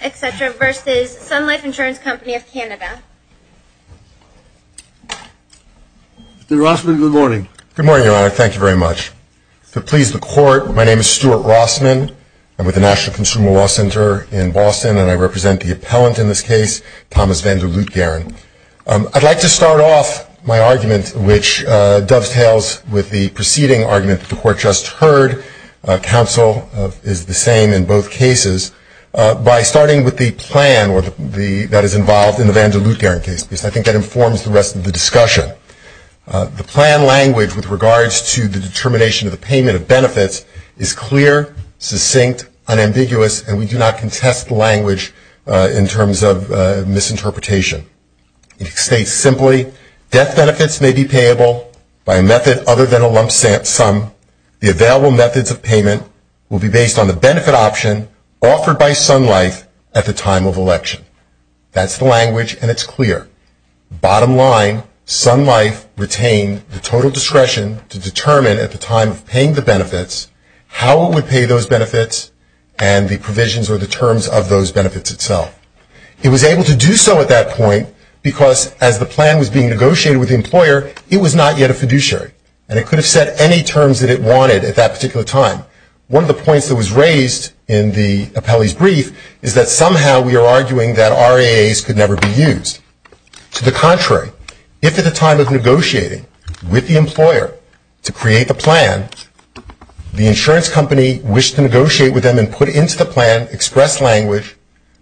Canada. Mr. Rossman, good morning. Good morning, Your Honor. Thank you very much. To please the Court, my name is Stuart Rossman. I'm with the National Consumer Law Center in Boston and I represent the appellant in this case, Thomas Vander Luitgaren. I'd like to start off my argument, which dovetails with the preceding argument that the Court just heard. Counsel is the same in both cases. By starting with the plan that is involved in the Vander Luitgaren case, because I think that informs the rest of the discussion, the plan language with regards to the determination of the payment of benefits is clear, succinct, unambiguous, and we do not contest the language in terms of misinterpretation. It states simply, death methods of payment will be based on the benefit option offered by Sun Life at the time of election. That's the language and it's clear. Bottom line, Sun Life retained the total discretion to determine at the time of paying the benefits how it would pay those benefits and the provisions or the terms of those benefits itself. It was able to do so at that point because as the plan was being negotiated with the employer, it was not yet a fiduciary and it could have said any terms that it wanted at that particular time. One of the points that was raised in the appellee's brief is that somehow we are arguing that RAAs could never be used. To the contrary, if at the time of negotiating with the employer to create the plan, the insurance company wished to negotiate with them and put into the plan express language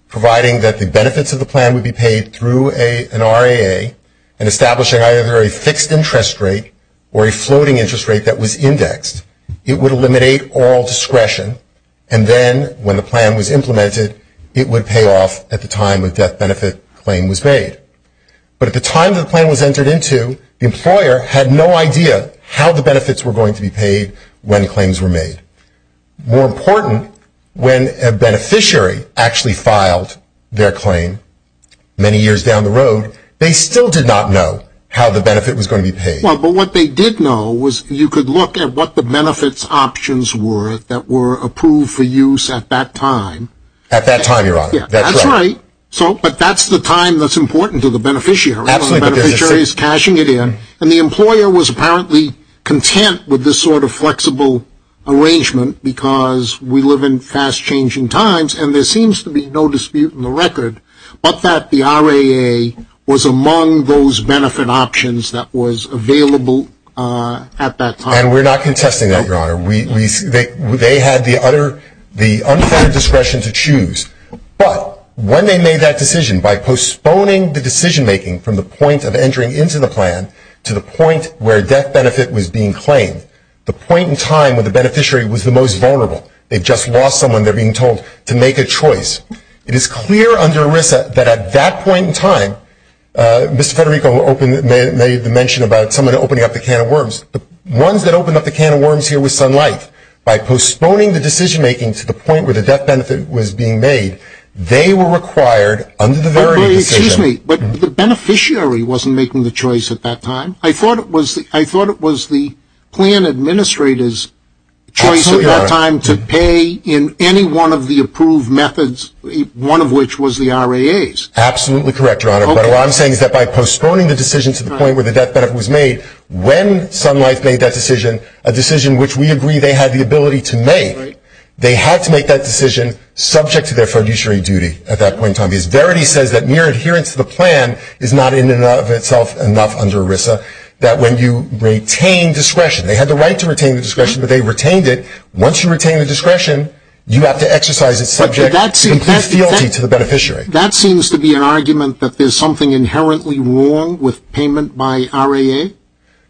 providing that the benefits of the plan would be paid through an RAA and establishing either a fixed interest rate or a floating interest rate that was indexed. It would eliminate all discretion and then when the plan was implemented, it would pay off at the time the death benefit claim was made. But at the time the plan was entered into, the employer had no idea how the benefits were going to be paid when claims were made. More important, when a beneficiary actually filed their claim many years down the road, they still did not know how the benefit was going to be paid. Well, but what they did know was you could look at what the benefits options were that were approved for use at that time. At that time, your honor, that's right. But that's the time that's important to the beneficiary when the beneficiary is cashing it in and the employer was apparently content with this sort of flexible arrangement because we live in fast changing times and there seems to be no dispute in the record but that the benefit options that was available at that time. And we're not contesting that, your honor. They had the unfair discretion to choose but when they made that decision by postponing the decision making from the point of entering into the plan to the point where death benefit was being claimed, the point in time when the beneficiary was the most vulnerable. They just lost someone, they're being told, to mention about someone opening up the can of worms. Ones that opened up the can of worms here was Sun Life. By postponing the decision making to the point where the death benefit was being made, they were required under the verity decision. Excuse me, but the beneficiary wasn't making the choice at that time. I thought it was the plan administrator's choice at that time to pay in any one of the approved methods, one of which was the R.A.A.'s. Absolutely correct, your honor. But what I'm saying is that by postponing the decision to the point where the death benefit was made, when Sun Life made that decision, a decision which we agree they had the ability to make, they had to make that decision subject to their fiduciary duty at that point in time because verity says that mere adherence to the plan is not in and of itself enough under ERISA. That when you retain discretion, they had the right to retain the discretion but they retained it. Once you retain the discretion, you have to exercise it subject to the beneficiary. That seems to be an argument that there's something inherently wrong with payment by R.A.A.?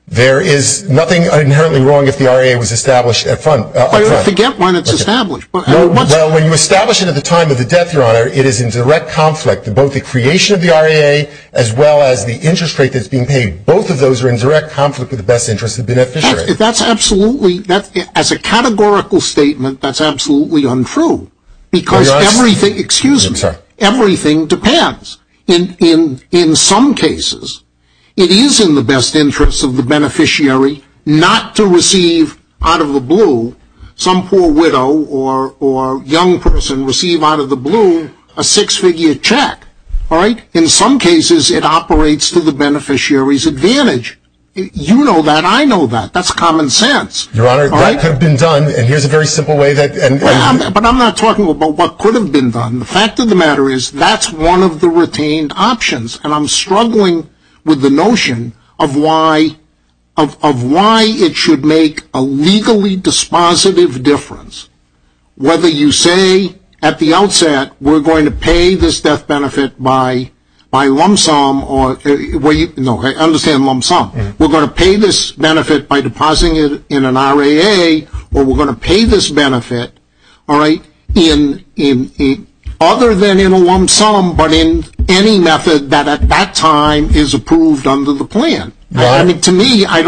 There is nothing inherently wrong if the R.A.A. was established at fund. I forget when it's established. Well, when you establish it at the time of the death, your honor, it is in direct conflict with both the creation of the R.A.A. as well as the interest rate that's being paid. Both of those are in direct conflict with the best interest of the beneficiary. That's absolutely, as a categorical statement, that's absolutely untrue because everything, excuse me, everything depends. In some cases, it is in the best interest of the beneficiary not to receive out of the blue, some poor widow or young person receive out of the blue a six-figure check. In some cases, it operates to the beneficiary's advantage. You know that. I know that. That's common sense. Your honor, that could have been done and here's a very simple way that... But I'm not talking about what could have been done. The fact of the matter is that's one of the retained options and I'm struggling with the notion of why it should make a legally dispositive difference. Whether you say at the outset, we're going to pay this death benefit by lump sum or... No, I understand lump sum. We're going to pay this benefit by depositing it in an RAA or we're going to pay this benefit other than in a lump sum but in any method that at that time is approved under the plan. To me, I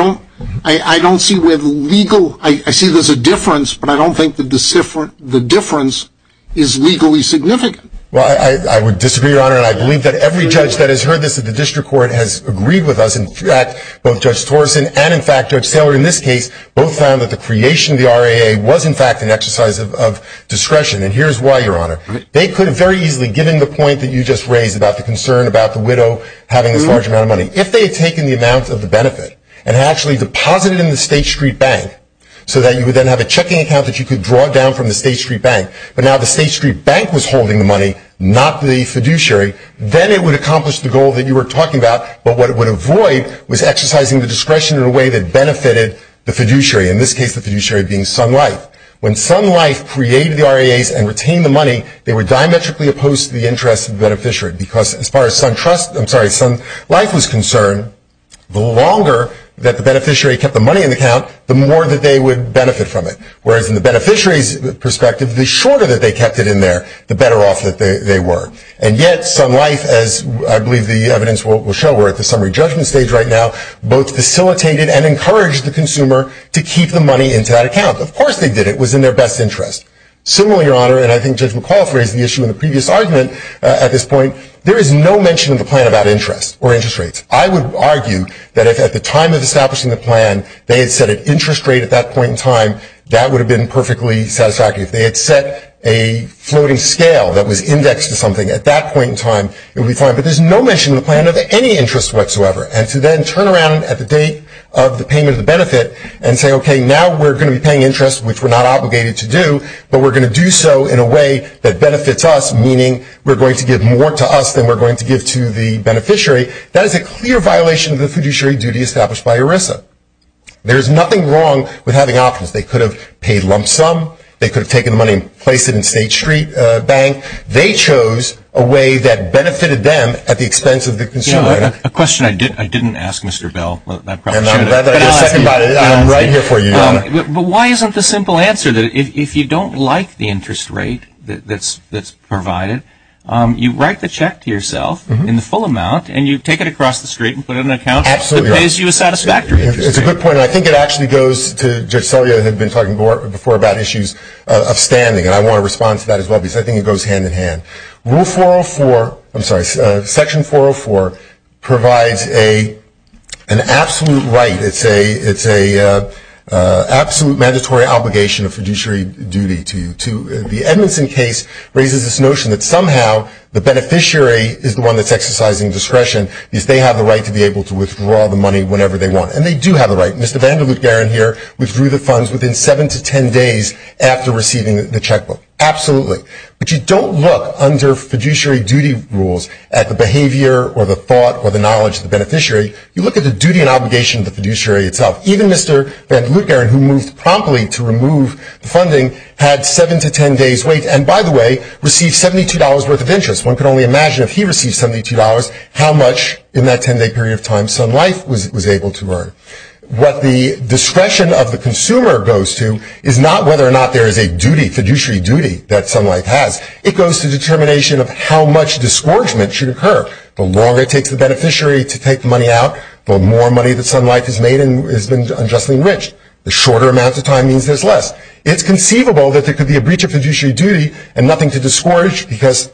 don't see where the legal... I see there's a difference, but I don't think the difference is legally significant. Well, I would disagree, your honor, and I believe that every judge that has heard this that the district court has agreed with us. In fact, both Judge Torsen and in fact Judge Saylor in this case both found that the creation of the RAA was in fact an exercise of discretion and here's why, your honor. They could have very easily given the point that you just raised about the concern about the widow having this large amount of money. If they had taken the amount of the benefit and actually deposited it in the State Street Bank so that you would then have a checking account that you could draw down from the State Street Bank, but now the State Street Bank was holding the money, not the fiduciary, then it would accomplish the goal that you were talking about, but what it would avoid was exercising the discretion in a way that benefited the fiduciary, in this case the fiduciary being Sun Life. When Sun Life created the RAAs and retained the money, they were diametrically opposed to the interests of the beneficiary because as far as Sun Life was concerned, the longer that the beneficiary kept the money in the account, the more that they would benefit from it, whereas in the beneficiary's perspective, the shorter that they kept it in there, the Sun Life, as I believe the evidence will show, we're at the summary judgment stage right now, both facilitated and encouraged the consumer to keep the money into that account. Of course they did. It was in their best interest. Similarly, your honor, and I think Judge McAuliffe raised the issue in the previous argument at this point, there is no mention in the plan about interest or interest rates. I would argue that if at the time of establishing the plan, they had set an interest rate at that point in time, that would have been perfectly satisfactory. If they had set a floating scale that was indexed to something at that point in time, it would be fine. But there's no mention in the plan of any interest whatsoever. And to then turn around at the date of the payment of the benefit and say, okay, now we're going to be paying interest, which we're not obligated to do, but we're going to do so in a way that benefits us, meaning we're going to give more to us than we're going to give to the beneficiary, that is a clear violation of the fiduciary duty established by ERISA. There's nothing wrong with having options. They could have paid lump sum. They could have taken the money and placed it in State Street Bank. They chose a way that benefited them at the expense of the consumer. A question I didn't ask Mr. Bell. I'm right here for you, Your Honor. But why isn't the simple answer that if you don't like the interest rate that's provided, you write the check to yourself in the full amount, and you take it across the street and put it in an account that pays you a satisfactory interest rate? Absolutely right. It's a good point, and I think it actually goes to Judge Selya, who is outstanding, and I want to respond to that as well, because I think it goes hand-in-hand. Rule 404, I'm sorry, Section 404 provides an absolute right. It's an absolute mandatory obligation of fiduciary duty to you. The Edmondson case raises this notion that somehow the beneficiary is the one that's exercising discretion, because they have the right to be able to withdraw the money whenever they want, and they do have the right. Mr. Vander Lutgeren here withdrew the funds within 7 to 10 days after receiving the checkbook. Absolutely. But you don't look under fiduciary duty rules at the behavior or the thought or the knowledge of the beneficiary. You look at the duty and obligation of the fiduciary itself. Even Mr. Vander Lutgeren, who moved promptly to remove the funding, had 7 to 10 days wait, and by the way, received $72 worth of interest. One could only imagine if he received $72 how much in that 10-day period of time Sun Life was able to earn. What the discretion of the consumer goes to is not whether or not there is a fiduciary duty that Sun Life has. It goes to the determination of how much disgorgement should occur. The longer it takes the beneficiary to take the money out, the more money that Sun Life has made and has been unjustly enriched. The shorter amount of time means there's less. It's conceivable that there could be a breach of fiduciary duty and nothing to disgorge because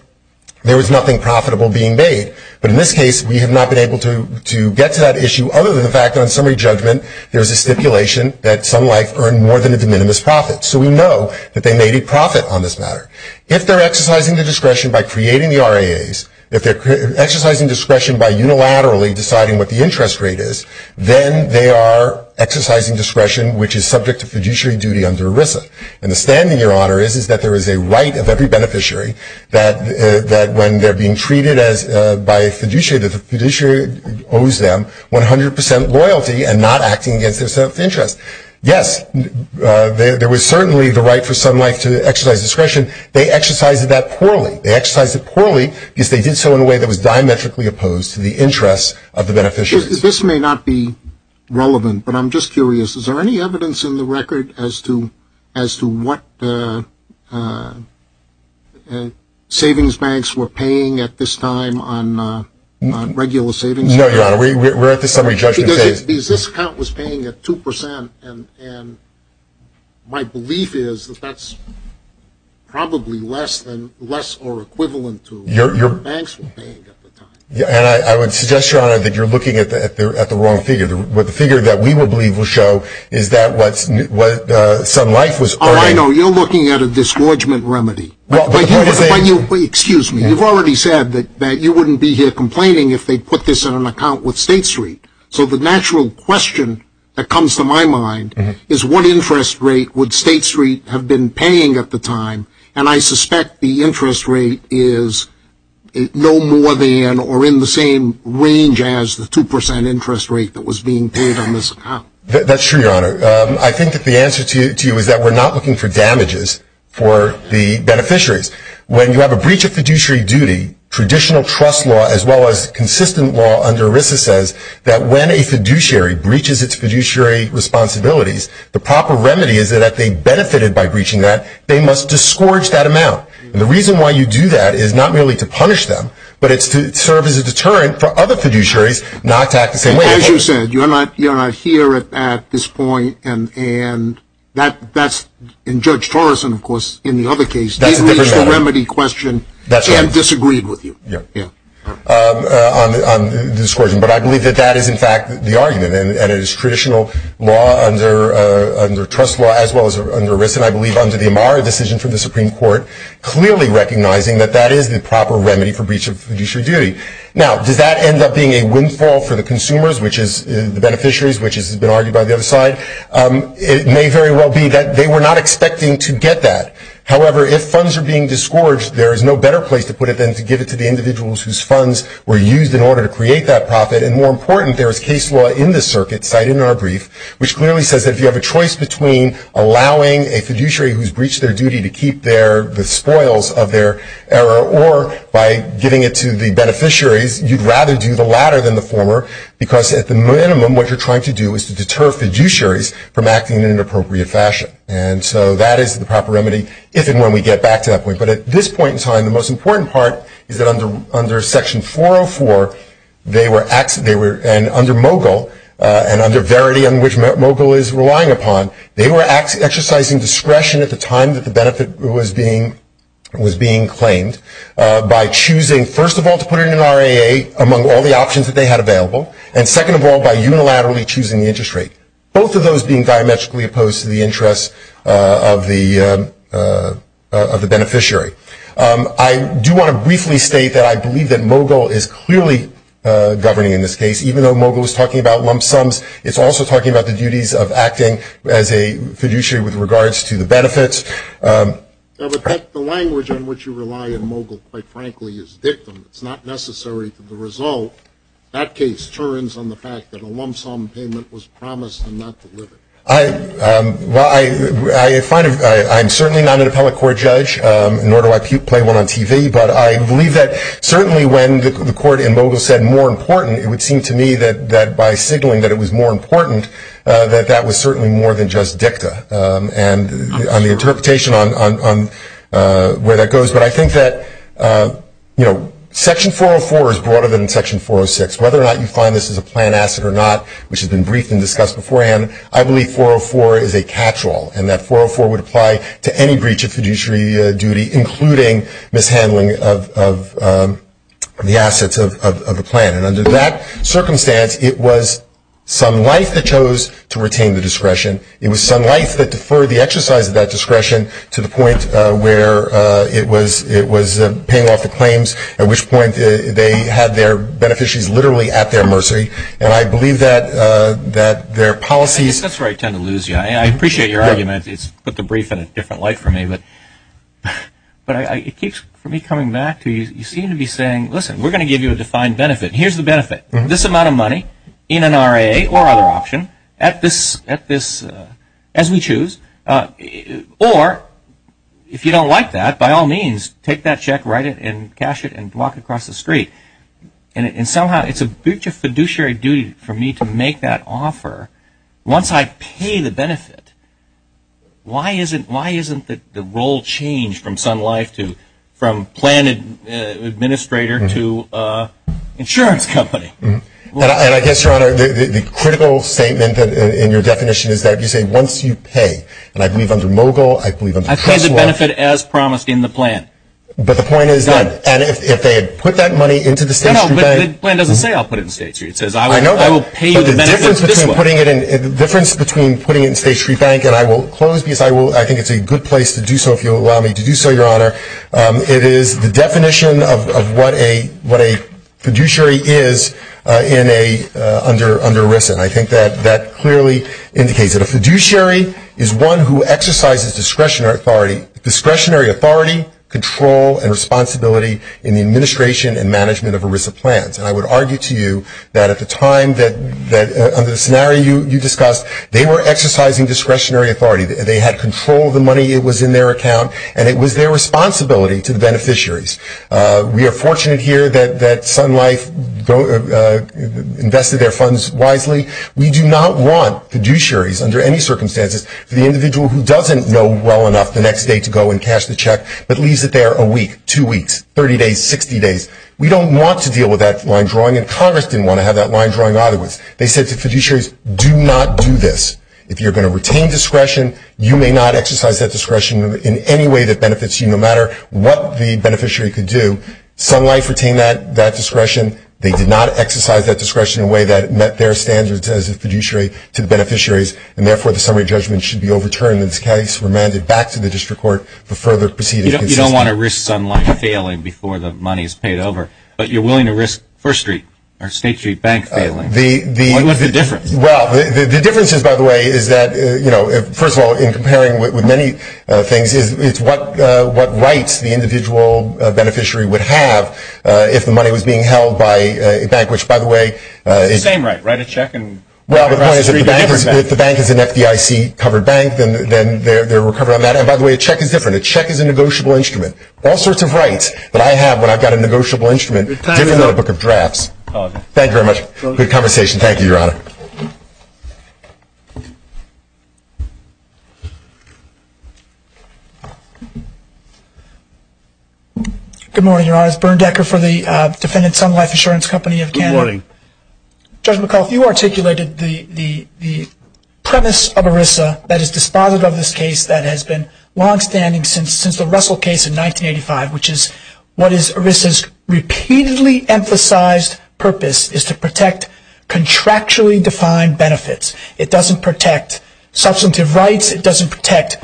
there was nothing profitable being made, but in this case we have not been able to get to that issue other than the fact that on summary judgment there's a stipulation that Sun Life earned more than a de minimis profit, so we know that they made a profit on this matter. If they're exercising the discretion by creating the RAAs, if they're exercising discretion by unilaterally deciding what the interest rate is, then they are exercising discretion which is subject to fiduciary duty under ERISA, and the standing, Your Honor, is that there owes them 100% loyalty and not acting against their self-interest. Yes, there was certainly the right for Sun Life to exercise discretion. They exercised that poorly. They exercised it poorly because they did so in a way that was diametrically opposed to the interests of the beneficiary. This may not be relevant, but I'm just curious, is there any evidence in the record as to what savings banks were paying at this time on regular savings accounts? No, Your Honor, we're at the summary judgment phase. This account was paying at 2%, and my belief is that that's probably less or equivalent to what banks were paying at the time. I would suggest, Your Honor, that you're looking at the wrong figure. The figure that we would believe will show is that what Sun Life was earning. Oh, I know. You're looking at a disgorgement remedy. Excuse me, you've already said that you wouldn't be here complaining if they put this in an account with State Street. So the natural question that comes to my mind is what interest rate would State Street have been paying at the time, and I suspect the interest rate is no more than or in the same range as the 2% interest rate that was being paid on this account. That's true, Your Honor. I think that the answer to you is that we're not looking for damages for the beneficiaries. When you have a breach of fiduciary duty, traditional trust law as well as consistent law under ERISA says that when a fiduciary breaches its fiduciary responsibilities, the proper remedy is that if they benefited by breaching that, they must disgorge that amount. The reason why you do that is not merely to punish them, but it's to serve as a deterrent for other fiduciaries not to act the same way. As you said, you're not here at this point, and that's in Judge Torreson, of course, in the other case. That's a different matter. He reached the remedy question and disagreed with you on the disgorgement, but I believe that that is in fact the argument, and it is traditional law under trust law as well as under ERISA, and I believe under the Amara decision from the Supreme Court, clearly recognizing that that is the proper remedy for breach of fiduciary duty. Now, does that end up being a windfall for the consumers, which is the beneficiaries, which has been argued by the other side? It may very well be that they were not expecting to get that. However, if funds are being disgorged, there is no better place to put it than to give it to the individuals whose funds were used in order to create that profit, and more important, there is case law in this circuit cited in our brief, which clearly says that if you have a choice between allowing a fiduciary who's breached their duty to keep the spoils of their error, or by giving it to the beneficiaries, you'd rather do the latter than the former, because at the minimum, what you're trying to do is to deter fiduciaries from acting in an appropriate fashion. And so that is the proper remedy, if and when we get back to that point. But at this point in time, the most important part is that under Section 404, they were – and under MoGIL, and under Verity, on which MoGIL is relying upon, they were exercising discretion at the time that the benefit was being – was being claimed by choosing, first of all, to put it in an RAA among all the options that they had available, and second of all, by unilaterally choosing the interest rate, both of those being diametrically opposed to the interests of the – of the beneficiary. I do want to briefly state that I believe that MoGIL is clearly governing in this case. Even though MoGIL is talking about lump sums, it's also talking about the duties of acting as a fiduciary with regards to the benefits. But the language on which you rely in MoGIL, quite frankly, is dictum. It's not necessary to the result. That case turns on the fact that a lump sum payment was promised and not delivered. Well, I find – I'm certainly not an appellate court judge, nor do I play one on TV, but I believe that certainly when the court in MoGIL said, more important, it would seem to me that by signaling that it was more important, that that was certainly more than just dictum and the interpretation on where that goes. But I think that, you know, Section 404 is broader than Section 406. Whether or not you find this is a plan asset or not, which has been briefed and discussed beforehand, I believe 404 is a catch-all, and that 404 would apply to any breach of fiduciary duty, including mishandling of the assets of a plan. And under that circumstance, it was some life that chose to retain the discretion. It was some life that deferred the exercise of that discretion to the point where it was paying off the claims, at which point they had their beneficiaries literally at their mercy. And I believe that their policies – That's where I tend to lose you. I appreciate your argument. It's put the brief in a different light for me. But it keeps for me coming back to you seem to be saying, listen, we're going to give you a defined benefit. Here's the benefit. This amount of money in an RA or other option, as we choose, or if you don't like that, by all means, take that check, write it, and cash it, and walk across the street. And somehow it's a breach of fiduciary duty for me to make that offer once I pay the benefit. Why isn't the role changed from Sun Life to – from planned administrator to insurance company? And I guess, your Honor, the critical statement in your definition is that you say once you pay – and I believe under Mogul, I believe under Kressler – I pay the benefit as promised in the plan. But the point is that – Done. And if they had put that money into the State Street Bank – No, but the plan doesn't say I'll put it in State Street. It says I will pay the benefit this way. The difference between putting it in State Street Bank and I will close because I think it's a good place to do so, if you'll allow me to do so, your Honor. It is the definition of what a fiduciary is in a – under ERISA. And I think that that clearly indicates it. A fiduciary is one who exercises discretionary authority, control, and responsibility in the administration and management of ERISA plans. And I would argue to you that at the time that – under the scenario you discussed, they were exercising discretionary authority. They had control of the money. It was in their account. And it was their responsibility to the beneficiaries. We are fortunate here that Sun Life invested their funds wisely. We do not want fiduciaries under any circumstances for the individual who doesn't know well enough the next day to go and cash the check but leaves it there a week, two weeks, 30 days, 60 days. We don't want to deal with that line drawing. And Congress didn't want to have that line drawing either. They said to fiduciaries, do not do this. If you're going to retain discretion, you may not exercise that discretion in any way that benefits you, no matter what the beneficiary could do. Sun Life retained that discretion. They did not exercise that discretion in a way that met their standards as a fiduciary to the beneficiaries. And therefore, the summary judgment should be overturned in this case, remanded back to the district court for further proceedings. You don't want to risk Sun Life failing before the money is paid over, but you're willing to risk First Street or State Street Bank failing. What is the difference? Well, the difference is, by the way, is that, you know, first of all, in comparing with many things, it's what rights the individual beneficiary would have if the money was being held by a bank, which, by the way – It's the same right, write a check and – Well, the point is if the bank is an FDIC-covered bank, then they're recovered on that. And by the way, a check is different. It's a negotiable instrument. All sorts of rights that I have when I've got a negotiable instrument are different than a book of drafts. Thank you very much. Good conversation. Thank you, Your Honor. Good morning, Your Honor. It's Bernd Decker for the defendant Sun Life Insurance Company of Canada. Good morning. Judge McAuliffe, you articulated the premise of ERISA that is dispositive of this case that has been longstanding since the Russell case in 1985, which is what is ERISA's repeatedly emphasized purpose is to protect contractually defined benefits. It doesn't protect substantive rights. It doesn't protect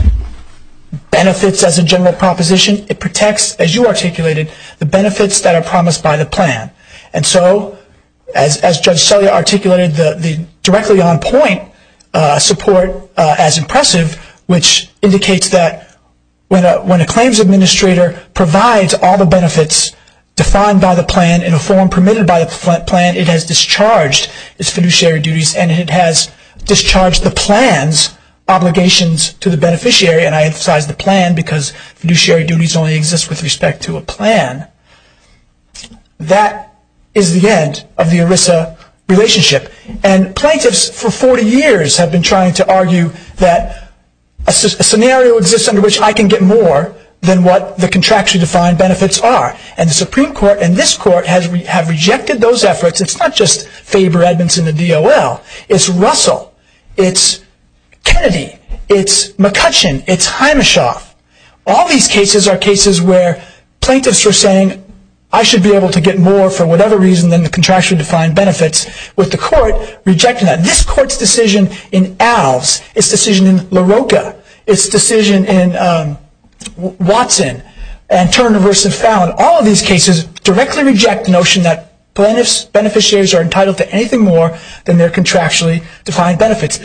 benefits as a general proposition. It protects, as you articulated, the benefits that are promised by the plan. And so, as Judge Selye articulated, the directly on point support as impressive, which indicates that when a claims administrator provides all the benefits defined by the plan in a form permitted by the plan, it has discharged its fiduciary duties and it has discharged the plan's obligations to the beneficiary. And I emphasize the plan because fiduciary duties only exist with respect to a plan. That is the end of the ERISA relationship. And plaintiffs for 40 years have been trying to argue that a scenario exists under which I can get more than what the contractually defined benefits are. And the Supreme Court and this Court have rejected those efforts. It's not just Faber, Edmondson, and DOL. It's Russell. It's Kennedy. It's McCutcheon. It's Himeshoff. All these cases are cases where plaintiffs are saying, I should be able to get more for whatever reason than the contractually defined benefits, with the Court rejecting that. This Court's decision in Alves, its decision in LaRocca, its decision in Watson, and Turner v. Fallon, all of these cases directly reject the notion that plaintiffs' beneficiaries are entitled to anything more than their contractually defined benefits.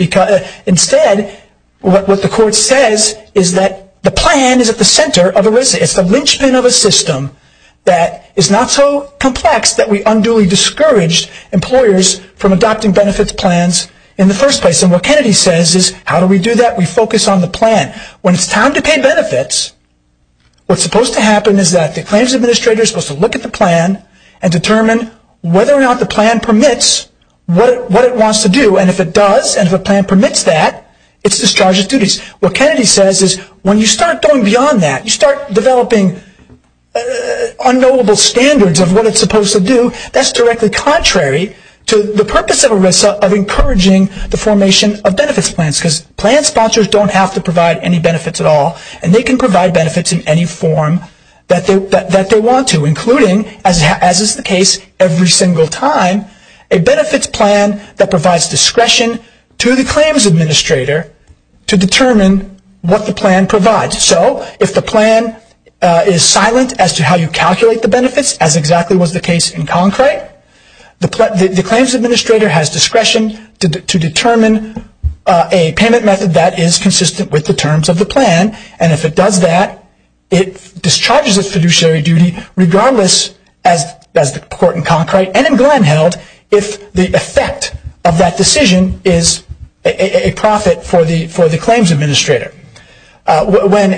Instead, what the Court says is that the plan is at the center of ERISA. It's the linchpin of a system that is not so complex that we unduly discourage employers from adopting benefits plans in the first place. And what Kennedy says is, how do we do that? We focus on the plan. When it's time to pay benefits, what's supposed to happen is that the claims administrator is supposed to look at the plan and determine whether or not the plan permits what it wants to do. And if it does, and if a plan permits that, it's discharge of duties. What Kennedy says is, when you start going beyond that, you start developing unknowable standards of what it's supposed to do, that's directly contrary to the purpose of ERISA of encouraging the formation of benefits plans. Because plan sponsors don't have to provide any benefits at all. And they can provide benefits in any form that they want to, including, as is the case every single time, a benefits plan that provides discretion to the claims administrator to determine what the plan provides. So if the plan is silent as to how you calculate the benefits, as exactly was the case in Concrite, the claims administrator has discretion to determine a payment method that is consistent with the terms of the plan. And if it does that, it discharges its fiduciary duty regardless, as the court in Concrite and in Glenn held, if the effect of that decision is a profit for the claims administrator. When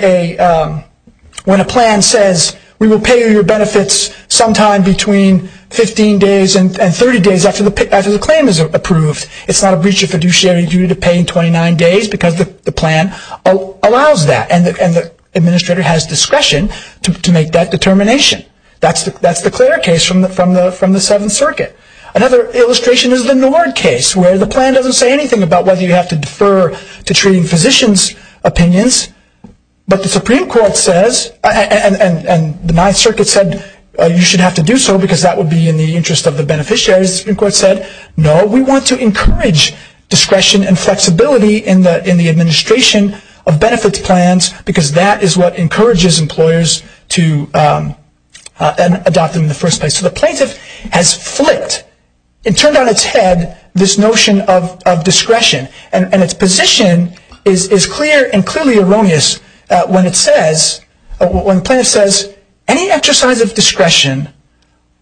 a plan says, we will pay your benefits sometime between 15 days and 30 days after the claim is approved, it's not a breach of fiduciary duty to pay in 29 days because the plan allows that. And the administrator has discretion to make that determination. That's the clear case from the Seventh Circuit. Another illustration is the Nord case, where the plan doesn't say anything about whether you have to defer to treating physicians' opinions. But the Supreme Court says, and the Ninth Circuit said you should have to do so because that would be in the interest of the beneficiaries. The Supreme Court said, no, we want to encourage discretion and flexibility in the administration of benefits plans because that is what encourages employers to adopt them in the first place. So the plaintiff has flicked and turned on its head this notion of discretion. And its position is clear and clearly erroneous when the plaintiff says, any exercise of discretion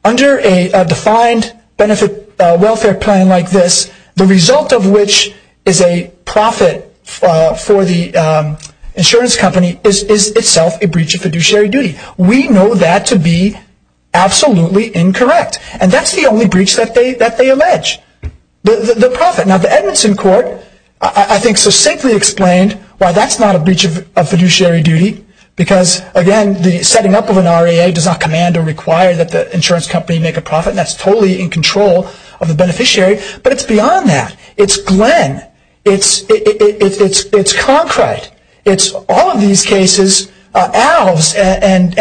under a defined benefit welfare plan like this, the result of which is a profit for the insurance company, is itself a breach of fiduciary duty. We know that to be absolutely incorrect. And that's the only breach that they allege. The profit. Now the Edmondson Court, I think, succinctly explained why that's not a breach of fiduciary duty. Because again, the setting up of an REA does not command or require that the insurance company make a profit. That's totally in control of the beneficiary. But it's beyond that. It's Glenn. It's Concrite. It's all of these cases, Alves and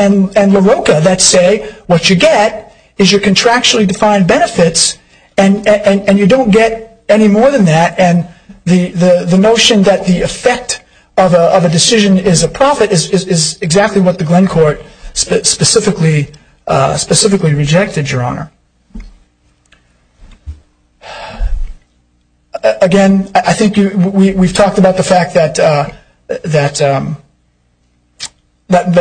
LaRocca, that say what you get is your contractually defined benefits and you don't get any more than that. And the notion that the effect of a decision is a profit is exactly what the Glenn Court specifically rejected, Your Honor. Again, I think we've talked about the fact that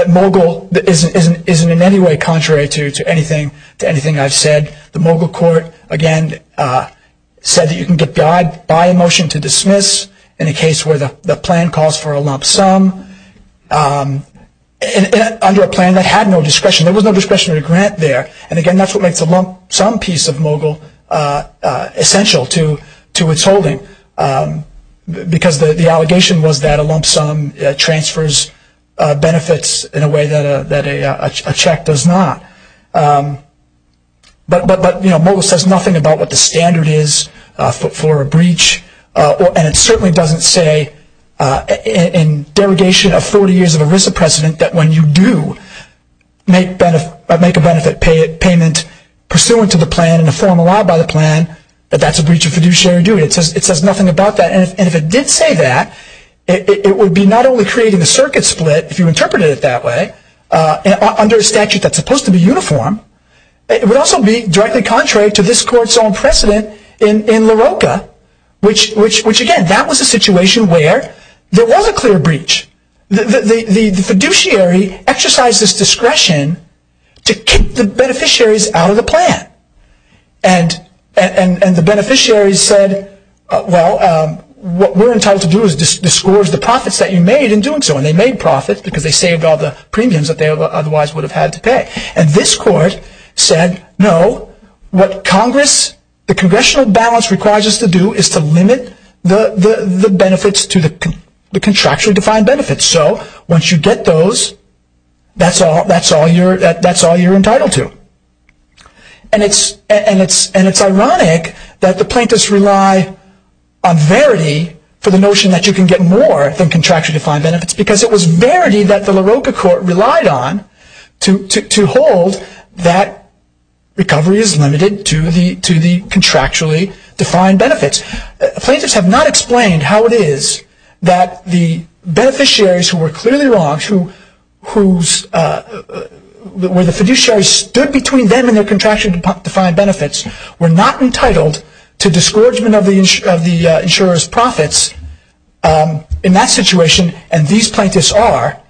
Mogul isn't in any way contrary to anything I've said. The Mogul Court, again, said that you can get by a motion to dismiss in a case where the plan calls for a lump sum. And under a plan that had no discretion. There was no discretionary grant there. And again, that's what makes a lump sum piece of Mogul essential to its holding. Because the allegation was that a lump sum transfers benefits in a way that a check does not. But Mogul says nothing about what the standard is for a breach. And it certainly doesn't say in derogation of 40 years of ERISA precedent that when you do make a benefit payment pursuant to the plan and a form allowed by the plan, that that's a breach of fiduciary duty. It says nothing about that. And if it did say that, it would be not only creating a circuit split, if you interpreted it that way, under a statute that's supposed to be uniform. It would also be directly contrary to this Court's own precedent in LaRocca. Which, again, that was a situation where there was a clear breach. The fiduciary exercised this discretion to kick the beneficiaries out of the plan. And the beneficiaries said, well, what we're entitled to do is disgorge the profits that you made in doing so. And they made profits because they saved all the premiums that they otherwise would have had to pay. And this Court said, no, what Congress, the Congressional balance requires us to do is to limit the benefits to the contractually defined benefits. So once you get those, that's all you're entitled to. And it's ironic that the plaintiffs rely on verity for the notion that you can get more than contractually defined benefits. Because it was verity that the LaRocca Court relied on to hold that recovery is limited to the contractually defined benefits. Plaintiffs have not explained how it is that the beneficiaries who were clearly wrong, where the fiduciaries stood between them and their contractually defined benefits, were not entitled to disgorgement of the insurer's profits in that situation. And these plaintiffs are,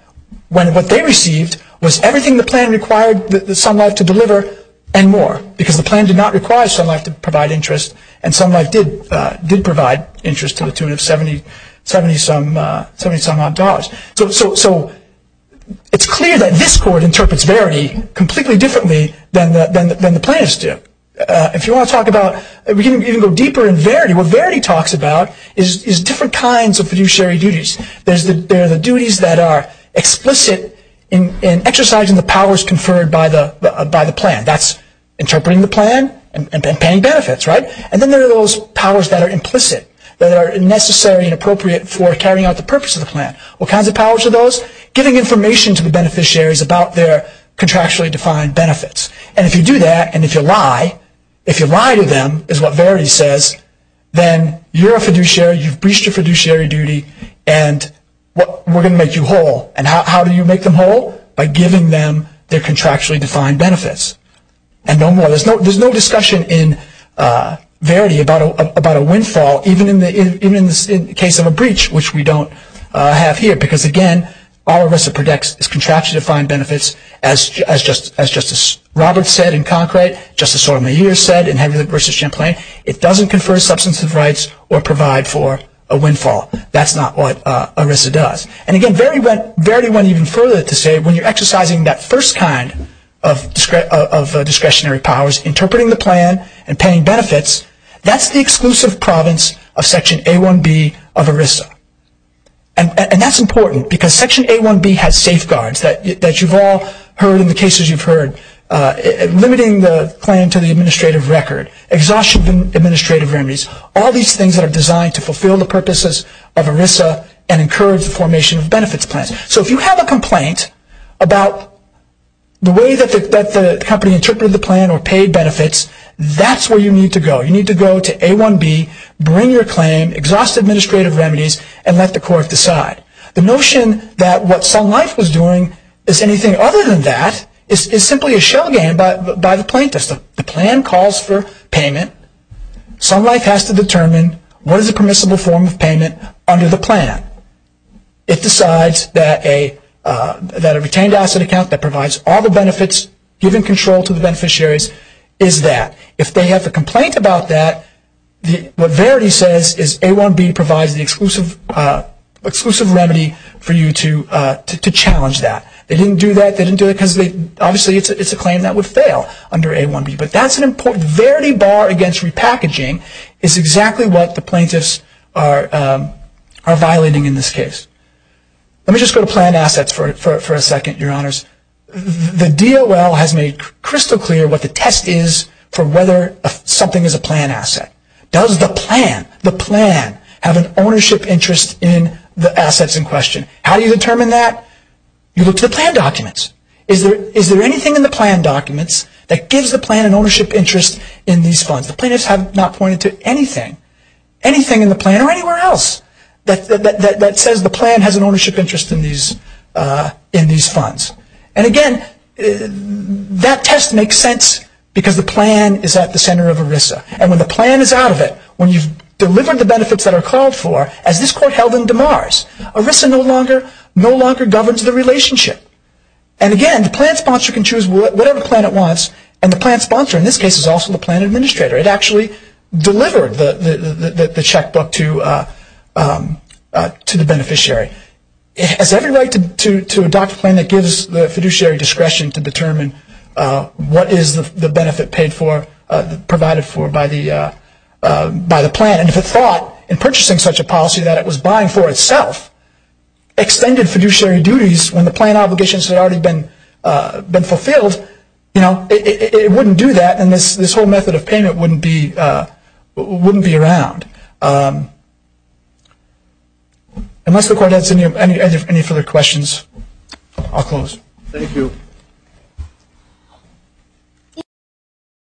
when what they received was everything the plan required Sun Life to deliver and more. Because the plan did not require Sun Life to provide interest and Sun Life did provide interest to the tune of 70-some odd dollars. So it's clear that this Court interprets verity completely differently than the plaintiffs do. If you want to talk about, we can even go deeper in verity. What verity talks about is different kinds of fiduciary duties. There are the duties that are explicit in exercising the powers conferred by the plan. That's interpreting the plan and paying benefits. And then there are those powers that are implicit, that are necessary and appropriate for carrying out the purpose of the plan. What kinds of powers are those? Giving information to the beneficiaries about their contractually defined benefits. And if you do that and if you lie, if you lie to them, is what verity says, then you're a fiduciary, you've breached your fiduciary duty and we're going to make you whole. And how do you make them whole? By giving them their contractually defined benefits. And no more. There's no discussion in verity about a windfall, even in the case of a breach, which we don't have here. Because, again, all ERISA protects is contractually defined benefits, as Justice Roberts said in Concrete, Justice Sotomayor said in Henry v. Champlain. It doesn't confer substantive rights or provide for a windfall. That's not what ERISA does. And, again, verity went even further to say when you're exercising that first kind of discretionary powers, interpreting the plan and paying benefits, that's the exclusive province of Section A1B of ERISA. And that's important because Section A1B has safeguards that you've all heard in the cases you've heard, limiting the plan to the administrative record, exhaustion of administrative remedies, all these things that are designed to fulfill the purposes of ERISA and encourage the formation of benefits plans. So if you have a complaint about the way that the company interpreted the plan or paid benefits, that's where you need to go. You need to go to A1B, bring your claim, exhaust administrative remedies, and let the court decide. The notion that what Sun Life was doing is anything other than that is simply a shell game by the plaintiffs. The plan calls for payment. Sun Life has to determine what is a permissible form of payment under the plan. It decides that a retained asset account that provides all the benefits given control to the beneficiaries is that. If they have a complaint about that, what verity says is A1B provides the exclusive remedy for you to challenge that. They didn't do that because obviously it's a claim that would fail under A1B, but that's an important verity bar against repackaging. It's exactly what the plaintiffs are violating in this case. Let me just go to planned assets for a second, Your Honors. The DOL has made crystal clear what the test is for whether something is a planned asset. Does the plan have an ownership interest in the assets in question? How do you determine that? You look to the plan documents. Is there anything in the plan documents that gives the plan an ownership interest in these funds? The plaintiffs have not pointed to anything. Anything in the plan or anywhere else that says the plan has an ownership interest in these funds. And again, that test makes sense because the plan is at the center of ERISA. And when the plan is out of it, when you've delivered the benefits that are called for, as this court held in DeMars, ERISA no longer governs the relationship. And again, the plan sponsor can choose whatever plan it wants, and the plan sponsor in this case is also the plan administrator. It actually delivered the checkbook to the beneficiary. It has every right to adopt a plan that gives the fiduciary discretion to determine what is the benefit provided for by the plan. And if it thought in purchasing such a policy that it was buying for itself, extended fiduciary duties when the plan obligations had already been fulfilled, it wouldn't do that and this whole method of payment wouldn't be around. Unless the court has any further questions, I'll close. Thank you.